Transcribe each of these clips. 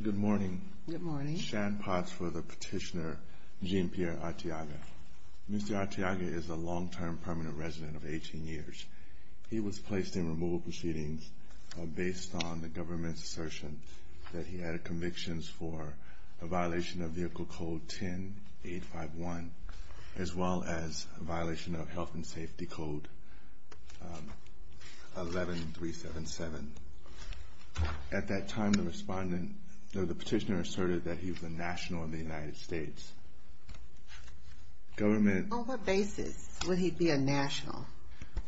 Good morning. Good morning. Shan Potts for the petitioner Jean-Pierre Arteaga. Mr. Arteaga is a long-term permanent resident of 18 years. He was placed in removal proceedings based on the government's assertion that he had convictions for a violation of Vehicle Code 10-851, as well as a violation of Health and Safety Code 11-377. At that time, the petitioner asserted that he was a national in the United States. On what basis would he be a national?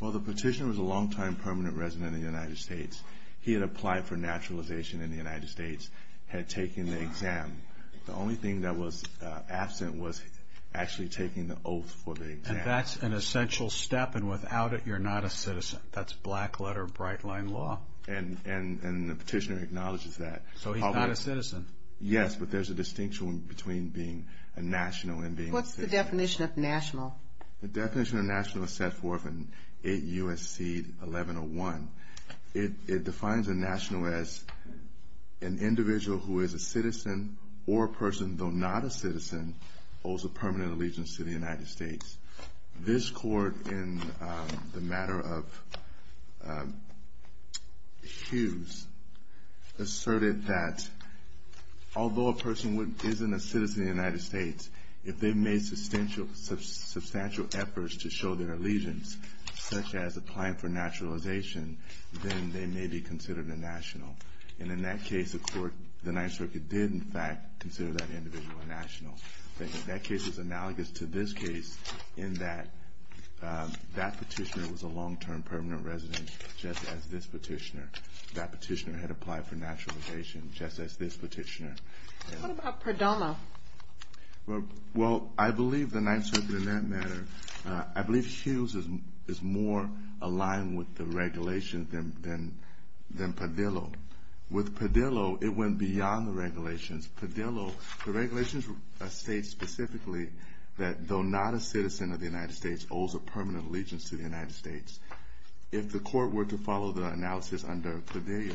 Well, the petitioner was a long-time permanent resident in the United States. He had applied for naturalization in the United States, had taken the exam. The only thing that was absent was actually taking the oath for the exam. And that's an essential step, and without it, you're not a citizen. That's black-letter, bright-line law. And the petitioner acknowledges that. So he's not a citizen. Yes, but there's a distinction between being a national and being a citizen. What's the definition of national? The definition of national is set forth in 8 U.S.C. 1101. It defines a national as an individual who is a citizen or a person, though not a citizen, owes a permanent allegiance to the United States. This court, in the matter of Hughes, asserted that although a person isn't a citizen in the United States, if they made substantial efforts to show their allegiance, such as applying for naturalization, then they may be considered a national. And in that case, the Ninth Circuit did, in fact, consider that individual a national. That case is analogous to this case in that that petitioner was a long-term permanent resident, just as this petitioner. That petitioner had applied for naturalization, just as this petitioner. What about Perdillo? Well, I believe the Ninth Circuit, in that matter, I believe Hughes is more aligned with the regulations than Perdillo. With Perdillo, it went beyond the regulations. Perdillo, the regulations state specifically that though not a citizen of the United States, owes a permanent allegiance to the United States. If the court were to follow the analysis under Perdillo,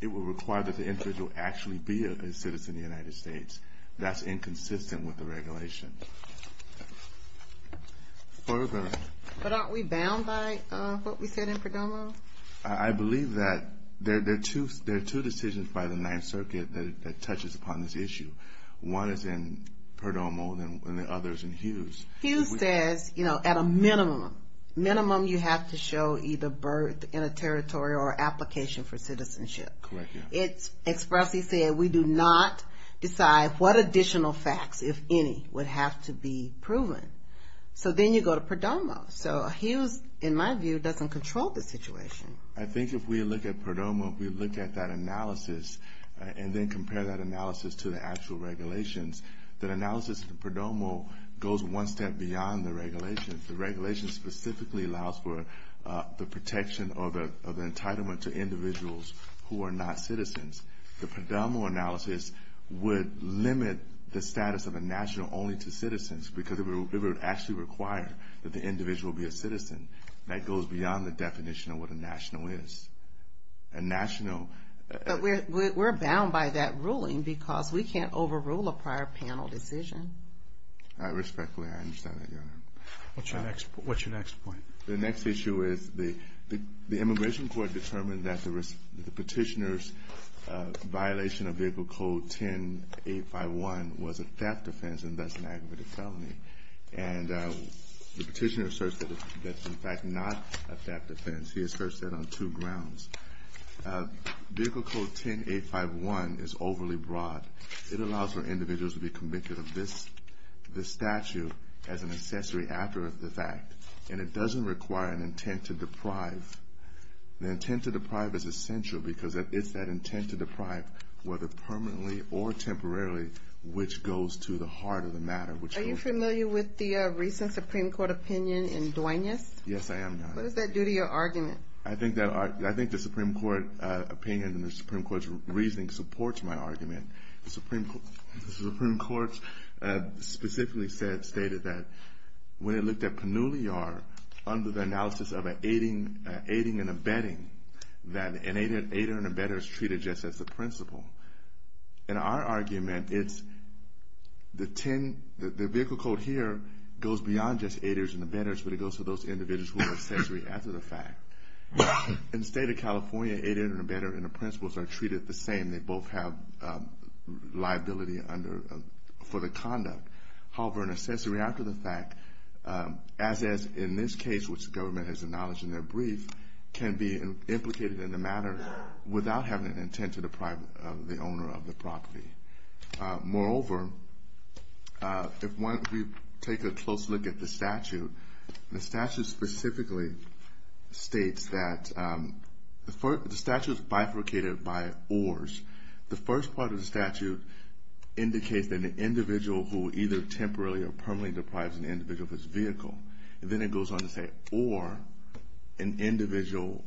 it would require that the individual actually be a citizen of the United States. That's inconsistent with the regulations. But aren't we bound by what we said in Perdomo? I believe that there are two decisions by the Ninth Circuit that touches upon this issue. One is in Perdomo, and the other is in Hughes. Hughes says, you know, at a minimum, minimum you have to show either birth in a territory or application for citizenship. Correct, yeah. Expressly said, we do not decide what additional facts, if any, would have to be proven. So then you go to Perdomo. So Hughes, in my view, doesn't control the situation. I think if we look at Perdomo, if we look at that analysis, and then compare that analysis to the actual regulations, that analysis in Perdomo goes one step beyond the regulations. The regulations specifically allows for the protection or the entitlement to individuals who are not citizens. The Perdomo analysis would limit the status of a national only to citizens, because it would actually require that the individual be a citizen. That goes beyond the definition of what a national is. A national – Respectfully, I understand that, Your Honor. What's your next point? The next issue is the immigration court determined that the petitioner's violation of Vehicle Code 10-851 was a theft offense, and thus an aggravated felony. And the petitioner asserts that it's, in fact, not a theft offense. He asserts that on two grounds. Vehicle Code 10-851 is overly broad. It allows for individuals to be convicted of this statute as an accessory after the fact, and it doesn't require an intent to deprive. The intent to deprive is essential because it's that intent to deprive, whether permanently or temporarily, which goes to the heart of the matter. Are you familiar with the recent Supreme Court opinion in Duenas? Yes, I am, Your Honor. What does that do to your argument? I think the Supreme Court opinion and the Supreme Court's reasoning supports my argument. The Supreme Court specifically stated that when it looked at Pannulliar under the analysis of aiding and abetting, that an aider and abetter is treated just as the principal. In our argument, the Vehicle Code here goes beyond just aiders and abetters, but it goes to those individuals who are an accessory after the fact. In the state of California, aider and abetter and the principals are treated the same. They both have liability for the conduct. However, an accessory after the fact, as is in this case, which the government has acknowledged in their brief, can be implicated in the matter without having an intent to deprive the owner of the property. Moreover, if we take a close look at the statute, the statute specifically states that the statute is bifurcated by ORs. The first part of the statute indicates that an individual who either temporarily or permanently deprives an individual of his vehicle, then it goes on to say OR an individual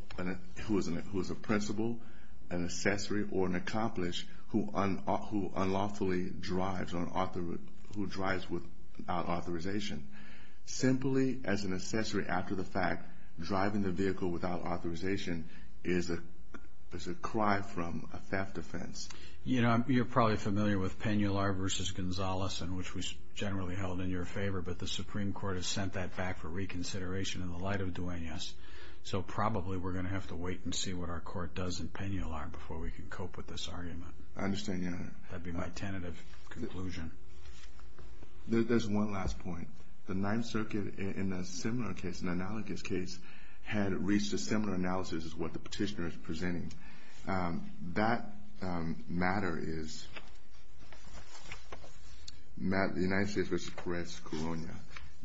who is a principal, an accessory, or an accomplished, who unlawfully drives without authorization. Simply as an accessory after the fact, driving the vehicle without authorization is a cry from a theft offense. You're probably familiar with Pannulliar v. Gonzalez, which was generally held in your favor, but the Supreme Court has sent that back for reconsideration in the light of Duenas. So probably we're going to have to wait and see what our court does in Pannulliar before we can cope with this argument. I understand, Your Honor. That would be my tentative conclusion. There's one last point. The Ninth Circuit in a similar case, an analogous case, had reached a similar analysis as what the petitioner is presenting. That matter is the United States v. Perez-Colonia.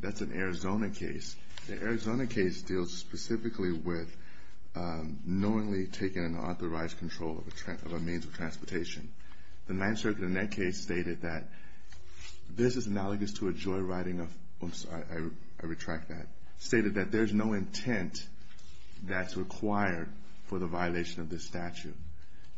That's an Arizona case. The Arizona case deals specifically with knowingly taking unauthorized control of a means of transportation. The Ninth Circuit in that case stated that this is analogous to a joyriding of, oops, I retract that, stated that there's no intent that's required for the violation of this statute.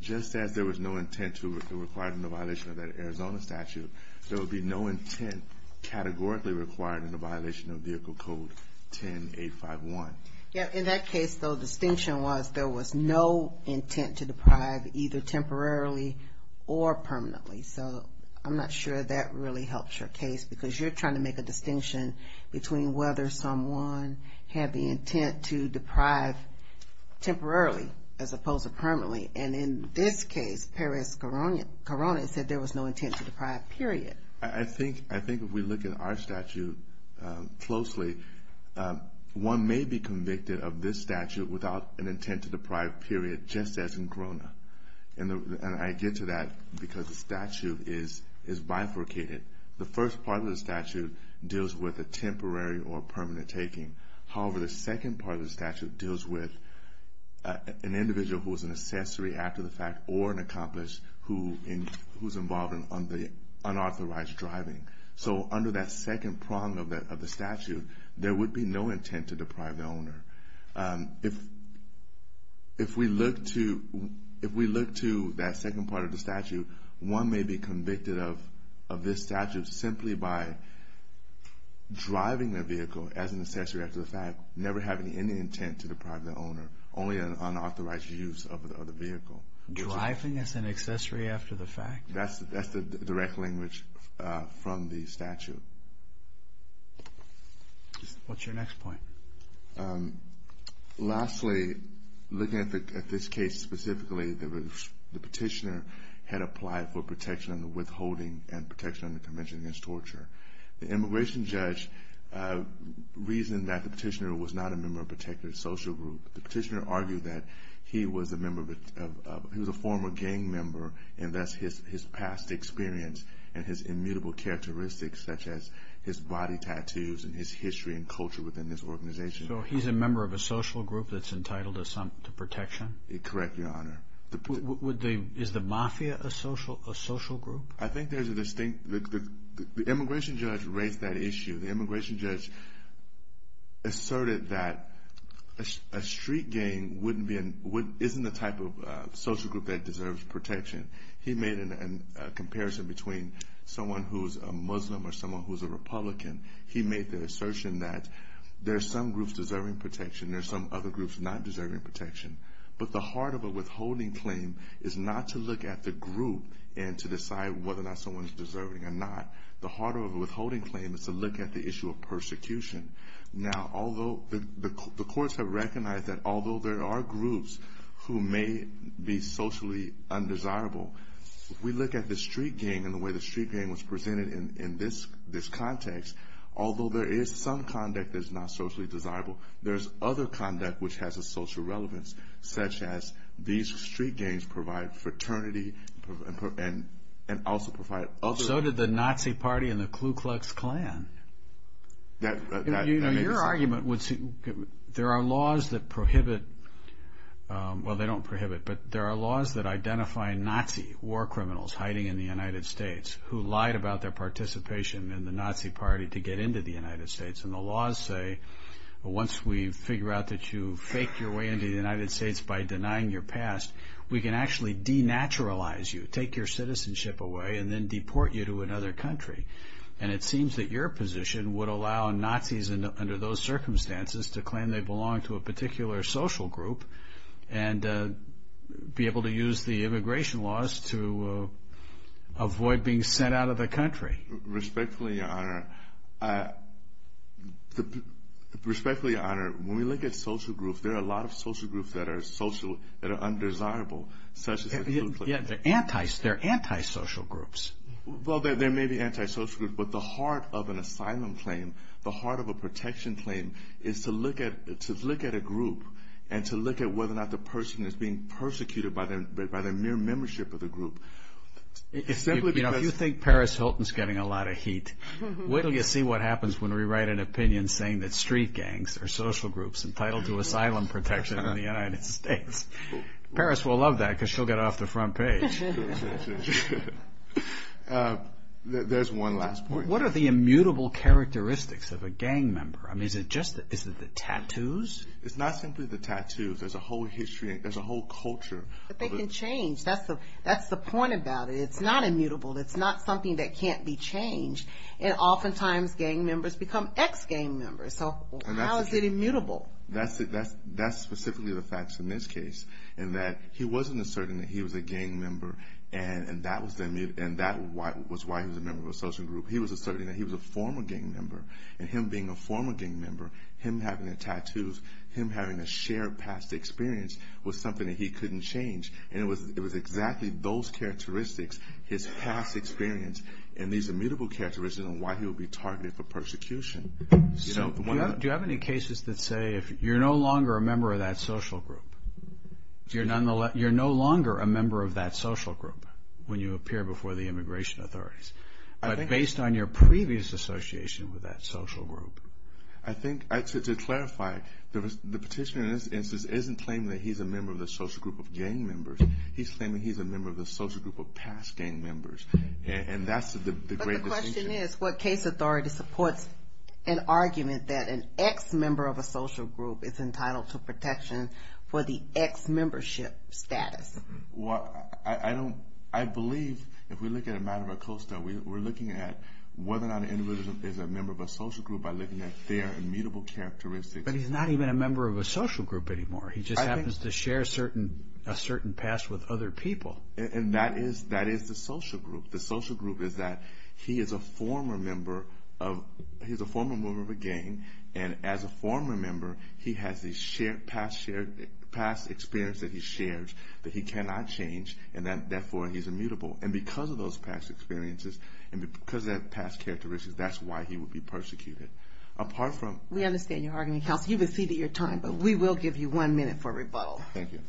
Just as there was no intent required in the violation of that Arizona statute, there would be no intent categorically required in the violation of Vehicle Code 10851. Yeah, in that case, the distinction was there was no intent to deprive either temporarily or permanently. So I'm not sure that really helps your case because you're trying to make a distinction between whether someone had the intent to deprive temporarily as opposed to permanently. And in this case, Perez-Colonia said there was no intent to deprive, period. I think if we look at our statute closely, one may be convicted of this statute without an intent to deprive, period, just as in Corona. And I get to that because the statute is bifurcated. The first part of the statute deals with a temporary or permanent taking. However, the second part of the statute deals with an individual who is an accessory after the fact or an accomplice who's involved in unauthorized driving. So under that second prong of the statute, there would be no intent to deprive the owner. If we look to that second part of the statute, one may be convicted of this statute simply by driving their vehicle as an accessory after the fact, never having any intent to deprive the owner, only an unauthorized use of the vehicle. Driving as an accessory after the fact? That's the direct language from the statute. What's your next point? Lastly, looking at this case specifically, the petitioner had applied for protection under withholding and protection under convention against torture. The immigration judge reasoned that the petitioner was not a member of a protected social group. The petitioner argued that he was a former gang member, and thus his past experience and his immutable characteristics such as his body tattoos and his history and culture within this organization. So he's a member of a social group that's entitled to protection? Correct, Your Honor. Is the mafia a social group? I think there's a distinct – the immigration judge raised that issue. The immigration judge asserted that a street gang isn't the type of social group that deserves protection. He made a comparison between someone who's a Muslim or someone who's a Republican. He made the assertion that there's some groups deserving protection, there's some other groups not deserving protection. But the heart of a withholding claim is not to look at the group and to decide whether or not someone's deserving or not. The heart of a withholding claim is to look at the issue of persecution. Now, although the courts have recognized that although there are groups who may be socially undesirable, if we look at the street gang and the way the street gang was presented in this context, although there is some conduct that's not socially desirable, there's other conduct which has a social relevance, such as these street gangs provide fraternity and also provide other – So did the Nazi party and the Ku Klux Klan. Your argument would – there are laws that prohibit – well, they don't prohibit, but there are laws that identify Nazi war criminals hiding in the United States who lied about their participation in the Nazi party to get into the United States. And the laws say once we figure out that you faked your way into the United States by denying your past, we can actually denaturalize you, take your citizenship away, and then deport you to another country. And it seems that your position would allow Nazis under those circumstances to claim they belong to a particular social group and be able to use the immigration laws to avoid being sent out of the country. Respectfully, Your Honor, when we look at social groups, there are a lot of social groups that are social, that are undesirable, such as the Ku Klux Klan. They're antisocial groups. Well, there may be antisocial groups, but the heart of an asylum claim, the heart of a protection claim is to look at a group and to look at whether or not the person is being persecuted by their mere membership of the group. If you think Paris Hilton is getting a lot of heat, wait until you see what happens when we write an opinion saying that street gangs are social groups entitled to asylum protection in the United States. Paris will love that because she'll get it off the front page. There's one last point. What are the immutable characteristics of a gang member? I mean, is it just the tattoos? It's not simply the tattoos. There's a whole history and there's a whole culture. But they can change. That's the point about it. It's not immutable. It's not something that can't be changed. And oftentimes gang members become ex-gang members. So how is it immutable? That's specifically the facts in this case, in that he wasn't asserting that he was a gang member, and that was why he was a member of a social group. He was asserting that he was a former gang member. And him being a former gang member, him having the tattoos, him having a shared past experience was something that he couldn't change. And it was exactly those characteristics, his past experience, and these immutable characteristics on why he would be targeted for persecution. Do you have any cases that say you're no longer a member of that social group? You're no longer a member of that social group when you appear before the immigration authorities. But based on your previous association with that social group. I think, to clarify, the petitioner in this instance isn't claiming that he's a member of the social group of gang members. He's claiming he's a member of the social group of past gang members. And that's the great distinction. The question is, what case authority supports an argument that an ex-member of a social group is entitled to protection for the ex-membership status? Well, I believe if we look at a matter of a costa, we're looking at whether or not an individual is a member of a social group by looking at their immutable characteristics. But he's not even a member of a social group anymore. He just happens to share a certain past with other people. And that is the social group. The social group is that he is a former member of a gang. And as a former member, he has a past experience that he shares that he cannot change, and therefore he's immutable. And because of those past experiences and because of past characteristics, that's why he would be persecuted. We understand your argument, Kelsey. You've exceeded your time, but we will give you one minute for rebuttal. Thank you.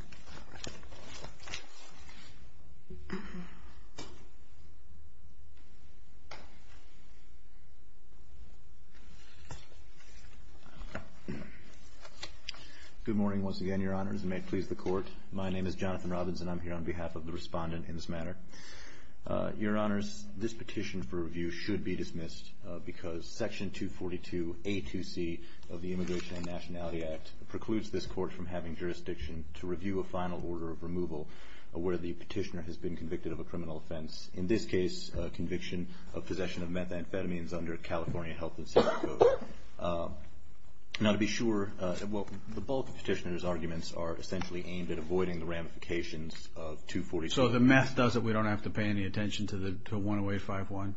Good morning once again, Your Honors, and may it please the Court. My name is Jonathan Robbins, and I'm here on behalf of the respondent in this matter. Your Honors, this petition for review should be dismissed because Section 242A-2C of the Immigration and Nationality Act precludes this Court from having jurisdiction to review a final order of removal where the petitioner has been convicted of a criminal offense. In this case, the petitioner has been convicted of a criminal offense and, in this case, conviction of possession of methamphetamines under California health and safety code. Now, to be sure, the bulk of the petitioner's arguments are essentially aimed at avoiding the ramifications of 242A. So the meth does it. We don't have to pay any attention to the 10851?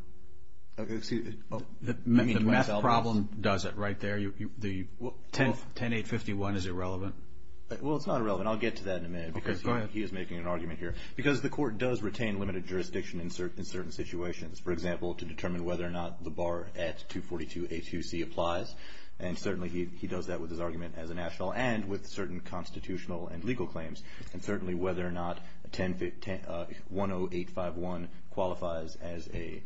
The meth problem does it right there. The 10851 is irrelevant. Well, it's not irrelevant. I'll get to that in a minute because he is making an argument here. Because the Court does retain limited jurisdiction in certain situations. For example, to determine whether or not the bar at 242A-2C applies, and certainly he does that with his argument as a national and with certain constitutional and legal claims, and certainly whether or not 10851 qualifies as an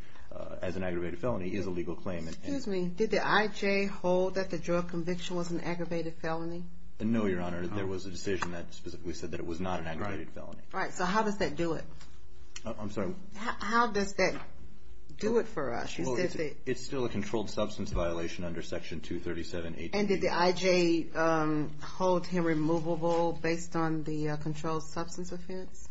aggravated felony is a legal claim. Excuse me. Did the IJ hold that the drug conviction was an aggravated felony? No, Your Honor. There was a decision that specifically said that it was not an aggravated felony. Right. So how does that do it? I'm sorry. How does that do it for us? It's still a controlled substance violation under Section 237A-2B. And did the IJ hold him removable based on the controlled substance offense?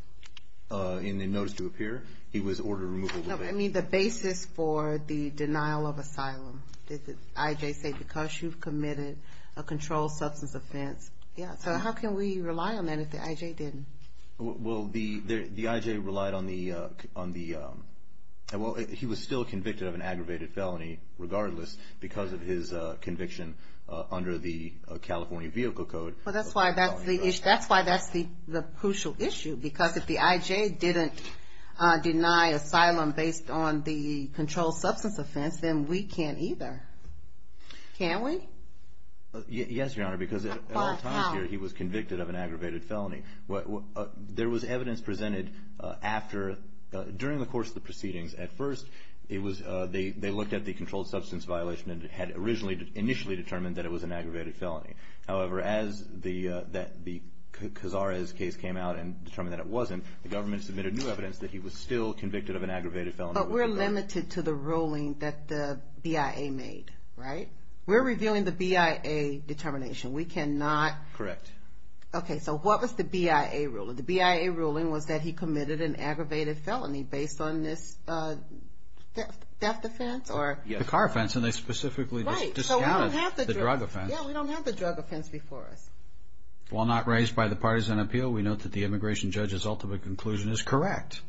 In the notice to appear, he was ordered removable. No, I mean the basis for the denial of asylum. Did the IJ say because you've committed a controlled substance offense? Yes. So how can we rely on that if the IJ didn't? Well, the IJ relied on the – well, he was still convicted of an aggravated felony regardless because of his conviction under the California Vehicle Code. Well, that's why that's the crucial issue because if the IJ didn't deny asylum based on the controlled substance offense, then we can't either. Can we? Yes, Your Honor, because at all times here he was convicted of an aggravated felony. There was evidence presented after – during the course of the proceedings. At first, they looked at the controlled substance violation and had initially determined that it was an aggravated felony. However, as the Cazares case came out and determined that it wasn't, the government submitted new evidence that he was still convicted of an aggravated felony. But we're limited to the ruling that the BIA made, right? We're revealing the BIA determination. We cannot – Correct. Okay. So what was the BIA ruling? The BIA ruling was that he committed an aggravated felony based on this death offense or – The car offense, and they specifically discounted the drug offense. Right. So we don't have the drug offense. Yeah, we don't have the drug offense before us. While not raised by the partisan appeal, we note that the immigration judge's ultimate conclusion is correct.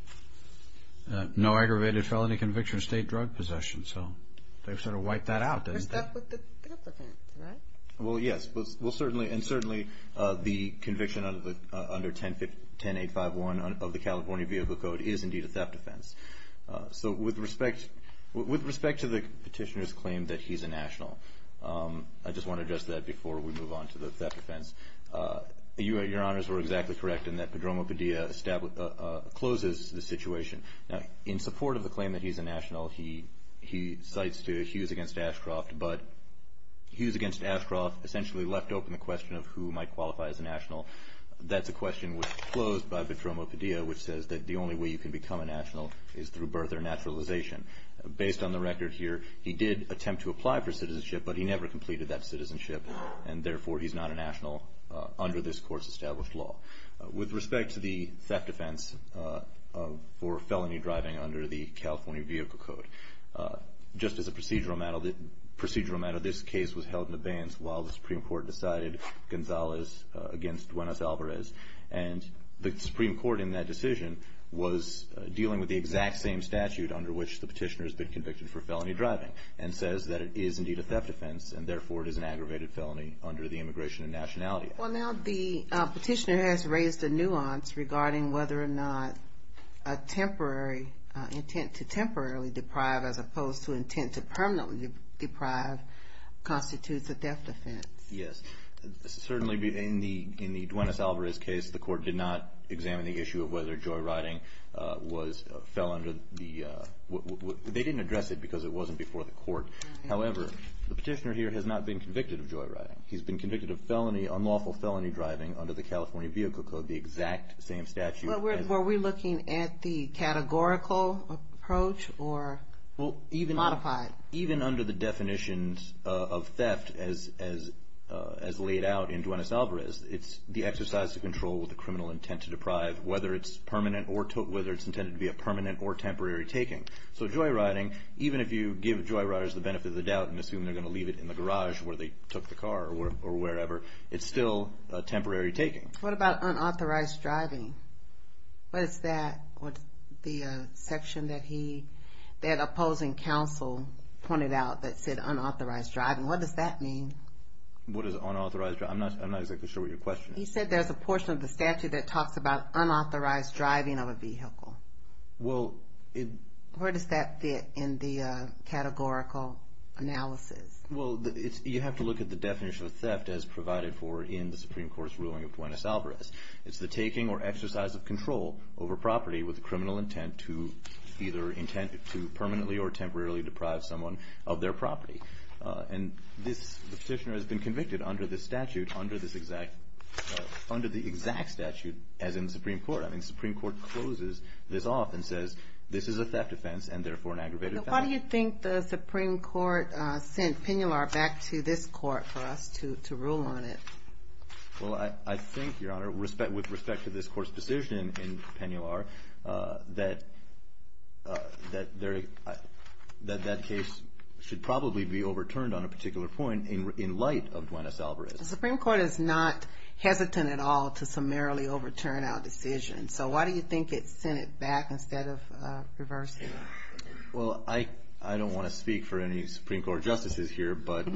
No aggravated felony conviction, state drug possession. So they sort of wiped that out, didn't they? Except with the theft offense, right? Well, yes. Well, certainly – and certainly the conviction under 10851 of the California Vehicle Code is indeed a theft offense. So with respect to the petitioner's claim that he's a national, I just want to address that before we move on to the theft offense. Your Honors were exactly correct in that Padromo Padilla closes the situation. Now, in support of the claim that he's a national, he cites Hughes against Ashcroft, but Hughes against Ashcroft essentially left open the question of who might qualify as a national. That's a question which was closed by Padromo Padilla, which says that the only way you can become a national is through birth or naturalization. Based on the record here, he did attempt to apply for citizenship, but he never completed that citizenship, and therefore he's not a national under this court's established law. With respect to the theft offense for felony driving under the California Vehicle Code, just as a procedural matter, this case was held in abeyance while the Supreme Court decided Gonzalez against Duenas Alvarez, and the Supreme Court in that decision was dealing with the exact same statute under which the petitioner has been convicted for felony driving and says that it is indeed a theft offense and therefore it is an aggravated felony under the Immigration and Nationality Act. Well, now the petitioner has raised a nuance regarding whether or not a temporary, intent to temporarily deprive as opposed to intent to permanently deprive, constitutes a theft offense. Yes. Certainly in the Duenas Alvarez case, the court did not examine the issue of whether joyriding fell under the, they didn't address it because it wasn't before the court. However, the petitioner here has not been convicted of joyriding. He's been convicted of felony, unlawful felony driving under the California Vehicle Code, the exact same statute. Were we looking at the categorical approach or modified? Even under the definitions of theft as laid out in Duenas Alvarez, it's the exercise of control with the criminal intent to deprive, whether it's intended to be a permanent or temporary taking. So joyriding, even if you give joyriders the benefit of the doubt and assume they're going to leave it in the garage where they took the car or wherever, it's still a temporary taking. What about unauthorized driving? What is that? The section that he, that opposing counsel pointed out that said unauthorized driving. What does that mean? What is unauthorized driving? I'm not exactly sure what you're questioning. He said there's a portion of the statute that talks about unauthorized driving of a vehicle. Where does that fit in the categorical analysis? Well, you have to look at the definition of theft as provided for in the Supreme Court's ruling of Duenas Alvarez. It's the taking or exercise of control over property with the criminal intent to either intent to permanently or temporarily deprive someone of their property. And this petitioner has been convicted under this statute, under the exact statute as in the Supreme Court. I mean, the Supreme Court closes this off and says this is a theft offense and therefore an aggravated theft. Why do you think the Supreme Court sent Penular back to this court for us to rule on it? Well, I think, Your Honor, with respect to this court's decision in Penular, that that case should probably be overturned on a particular point in light of Duenas Alvarez. The Supreme Court is not hesitant at all to summarily overturn our decision. So why do you think it sent it back instead of reversing it? Well, I don't want to speak for any Supreme Court justices here, but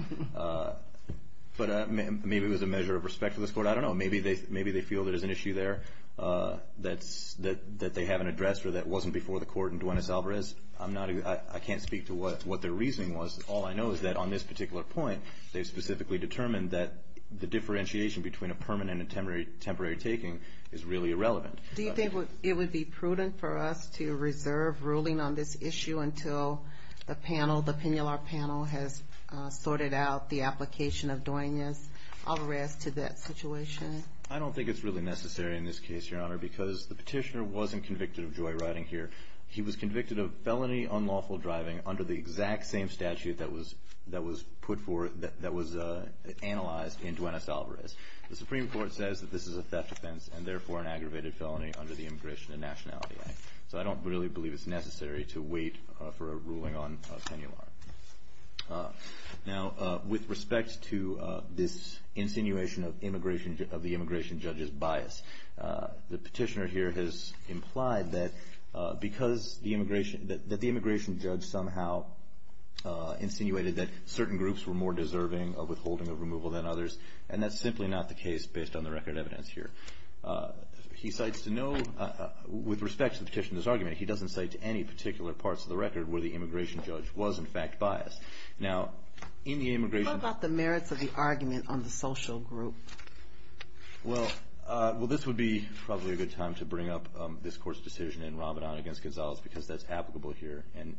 maybe it was a measure of respect for this court. I don't know. Maybe they feel there's an issue there that they haven't addressed or that wasn't before the court in Duenas Alvarez. I can't speak to what their reasoning was. All I know is that on this particular point they specifically determined that the differentiation between a permanent and temporary taking is really irrelevant. Do you think it would be prudent for us to reserve ruling on this issue until the Penular panel has sorted out the application of Duenas Alvarez to that situation? I don't think it's really necessary in this case, Your Honor, because the petitioner wasn't convicted of joyriding here. He was convicted of felony unlawful driving under the exact same statute that was analyzed in Duenas Alvarez. The Supreme Court says that this is a theft offense and therefore an aggravated felony under the Immigration and Nationality Act. So I don't really believe it's necessary to wait for a ruling on Penular. Now, with respect to this insinuation of the immigration judge's bias, the petitioner here has implied that the immigration judge somehow insinuated that certain groups were more deserving of withholding of removal than others, and that's simply not the case based on the record evidence here. With respect to the petitioner's argument, he doesn't cite any particular parts of the record where the immigration judge was, in fact, biased. How about the merits of the argument on the social group? Well, this would be probably a good time to bring up this court's decision in Ramadan against Gonzalez because that's applicable here, and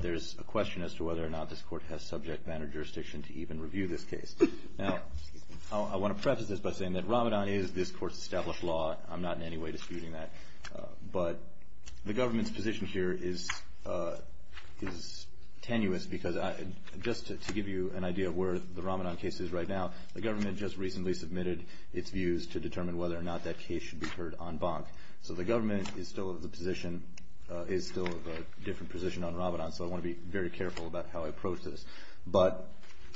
there's a question as to whether or not this court has subject matter jurisdiction to even review this case. Now, I want to preface this by saying that Ramadan is this court's established law. I'm not in any way disputing that, but the government's position here is tenuous because just to give you an idea of where the Ramadan case is right now, the government just recently submitted its views to determine whether or not that case should be heard on Bank. So the government is still of a different position on Ramadan, so I want to be very careful about how I approach this. But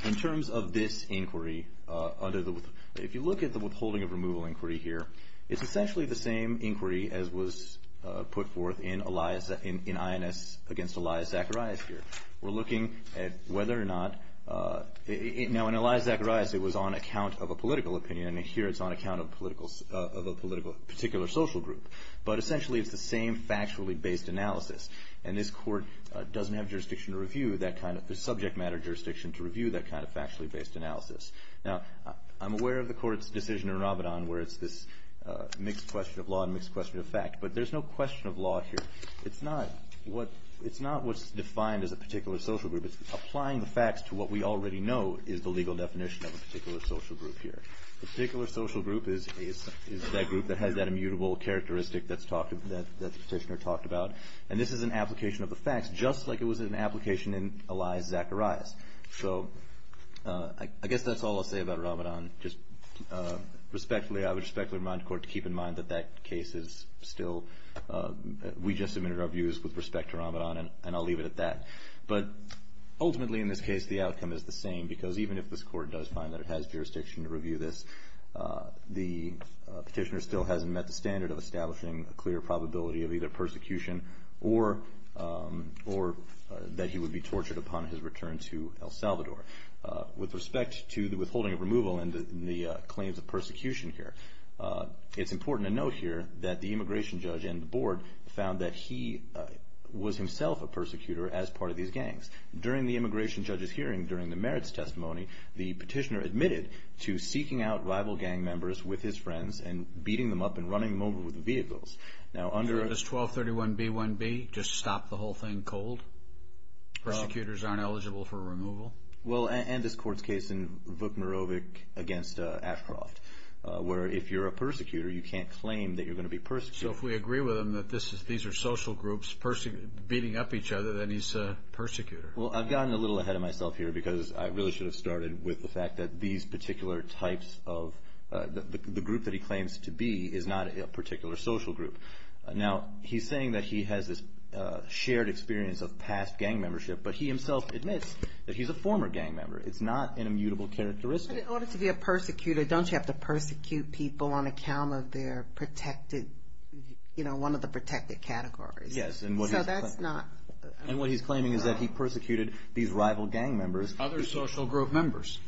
in terms of this inquiry, if you look at the withholding of removal inquiry here, it's essentially the same inquiry as was put forth in INS against Elias Zacharias here. We're looking at whether or not... Now, in Elias Zacharias, it was on account of a political opinion, and here it's on account of a particular social group, but essentially it's the same factually based analysis, and this court doesn't have jurisdiction to review that kind of... the subject matter jurisdiction to review that kind of factually based analysis. Now, I'm aware of the court's decision in Ramadan where it's this mixed question of law and mixed question of fact, but there's no question of law here. It's not what's defined as a particular social group. It's applying the facts to what we already know is the legal definition of a particular social group here. A particular social group is that group that has that immutable characteristic that the petitioner talked about, and this is an application of the facts, just like it was an application in Elias Zacharias. So I guess that's all I'll say about Ramadan. Respectfully, I would respectfully remind the court to keep in mind that that case is still... We just submitted our views with respect to Ramadan, and I'll leave it at that. But ultimately in this case, the outcome is the same, because even if this court does find that it has jurisdiction to review this, the petitioner still hasn't met the standard of establishing a clear probability of either persecution or that he would be tortured upon his return to El Salvador. With respect to the withholding of removal and the claims of persecution here, it's important to note here that the immigration judge and the board found that he was himself a persecutor as part of these gangs. During the immigration judge's hearing, during the merits testimony, the petitioner admitted to seeking out rival gang members with his friends and beating them up and running them over with vehicles. Is 1231B1B just stop the whole thing cold? Persecutors aren't eligible for removal? Well, and this court's case in Vuk Norovic against Ashcroft, where if you're a persecutor, you can't claim that you're going to be persecuted. So if we agree with him that these are social groups beating up each other, then he's a persecutor. Well, I've gotten a little ahead of myself here, because I really should have started with the fact that these particular types of... Now, he's saying that he has this shared experience of past gang membership, but he himself admits that he's a former gang member. It's not an immutable characteristic. But in order to be a persecutor, don't you have to persecute people on account of their protected, you know, one of the protected categories? Yes. So that's not... And what he's claiming is that he persecuted these rival gang members. Other social group members.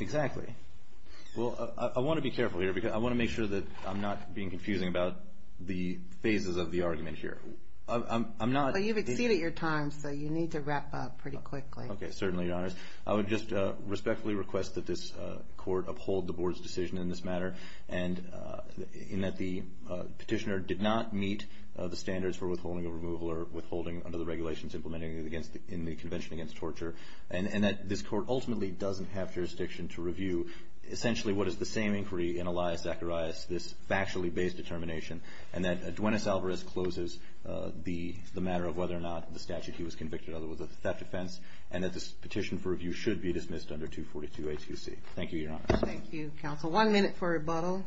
Exactly. Well, I want to be careful here, because I want to make sure that I'm not being confusing about the phases of the argument here. I'm not... Well, you've exceeded your time, so you need to wrap up pretty quickly. Okay, certainly, Your Honors. I would just respectfully request that this court uphold the board's decision in this matter, and that the petitioner did not meet the standards for withholding a removal or withholding under the regulations implemented in the Convention Against Torture, and that this court ultimately doesn't have jurisdiction to review, essentially, what is the same inquiry in Elias Zacharias, this factually based determination, and that Duenas Alvarez closes the matter of whether or not the statute he was convicted under was a theft offense, and that this petition for review should be dismissed under 242A2C. Thank you, Your Honors. Thank you, counsel. One minute for rebuttal.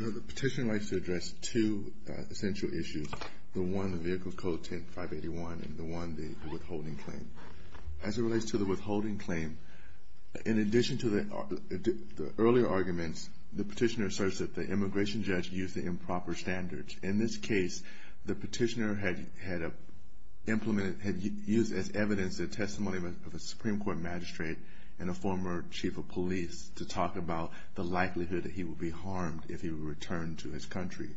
The petitioner likes to address two essential issues. The one, the vehicle code 10581, and the one, the withholding claim. As it relates to the withholding claim, in addition to the earlier arguments, the petitioner asserts that the immigration judge used the improper standards. In this case, the petitioner had used as evidence the testimony of a Supreme Court magistrate and a former chief of police to talk about the likelihood that he would be harmed if he returned to his country.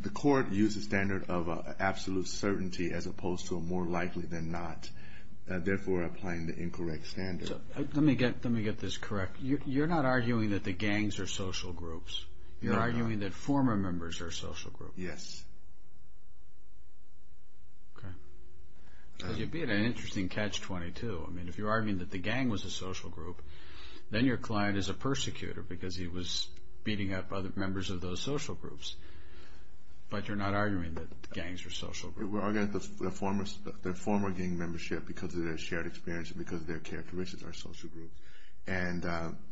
The court used a standard of absolute certainty as opposed to a more likely than not, therefore applying the incorrect standard. Let me get this correct. You're not arguing that the gangs are social groups. You're arguing that former members are social groups. Yes. Okay. You beat an interesting catch-22. I mean, if you're arguing that the gang was a social group, then your client is a persecutor because he was beating up other members of those social groups. But you're not arguing that the gangs are social groups. We're arguing that the former gang membership, because of their shared experience and because of their characteristics, are social groups. And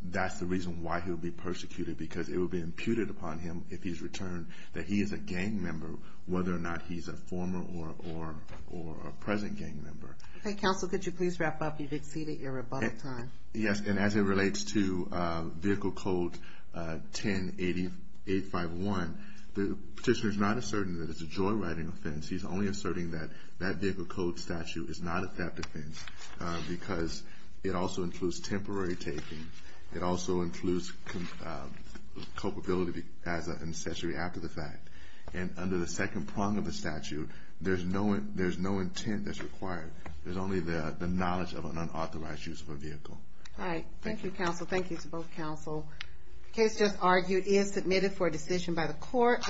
that's the reason why he would be persecuted, because it would be imputed upon him if he's returned that he is a gang member, whether or not he's a former or a present gang member. Okay, counsel, could you please wrap up? You've exceeded your rebuttal time. Yes, and as it relates to Vehicle Code 10851, the petitioner is not asserting that it's a joyriding offense. He's only asserting that that Vehicle Code statute is not a theft offense because it also includes temporary taking. It also includes culpability as an accessory after the fact. And under the second prong of the statute, there's no intent that's required. There's only the knowledge of an unauthorized use of a vehicle. All right. Thank you, counsel. Thank you to both counsel. The case just argued is submitted for a decision by the court.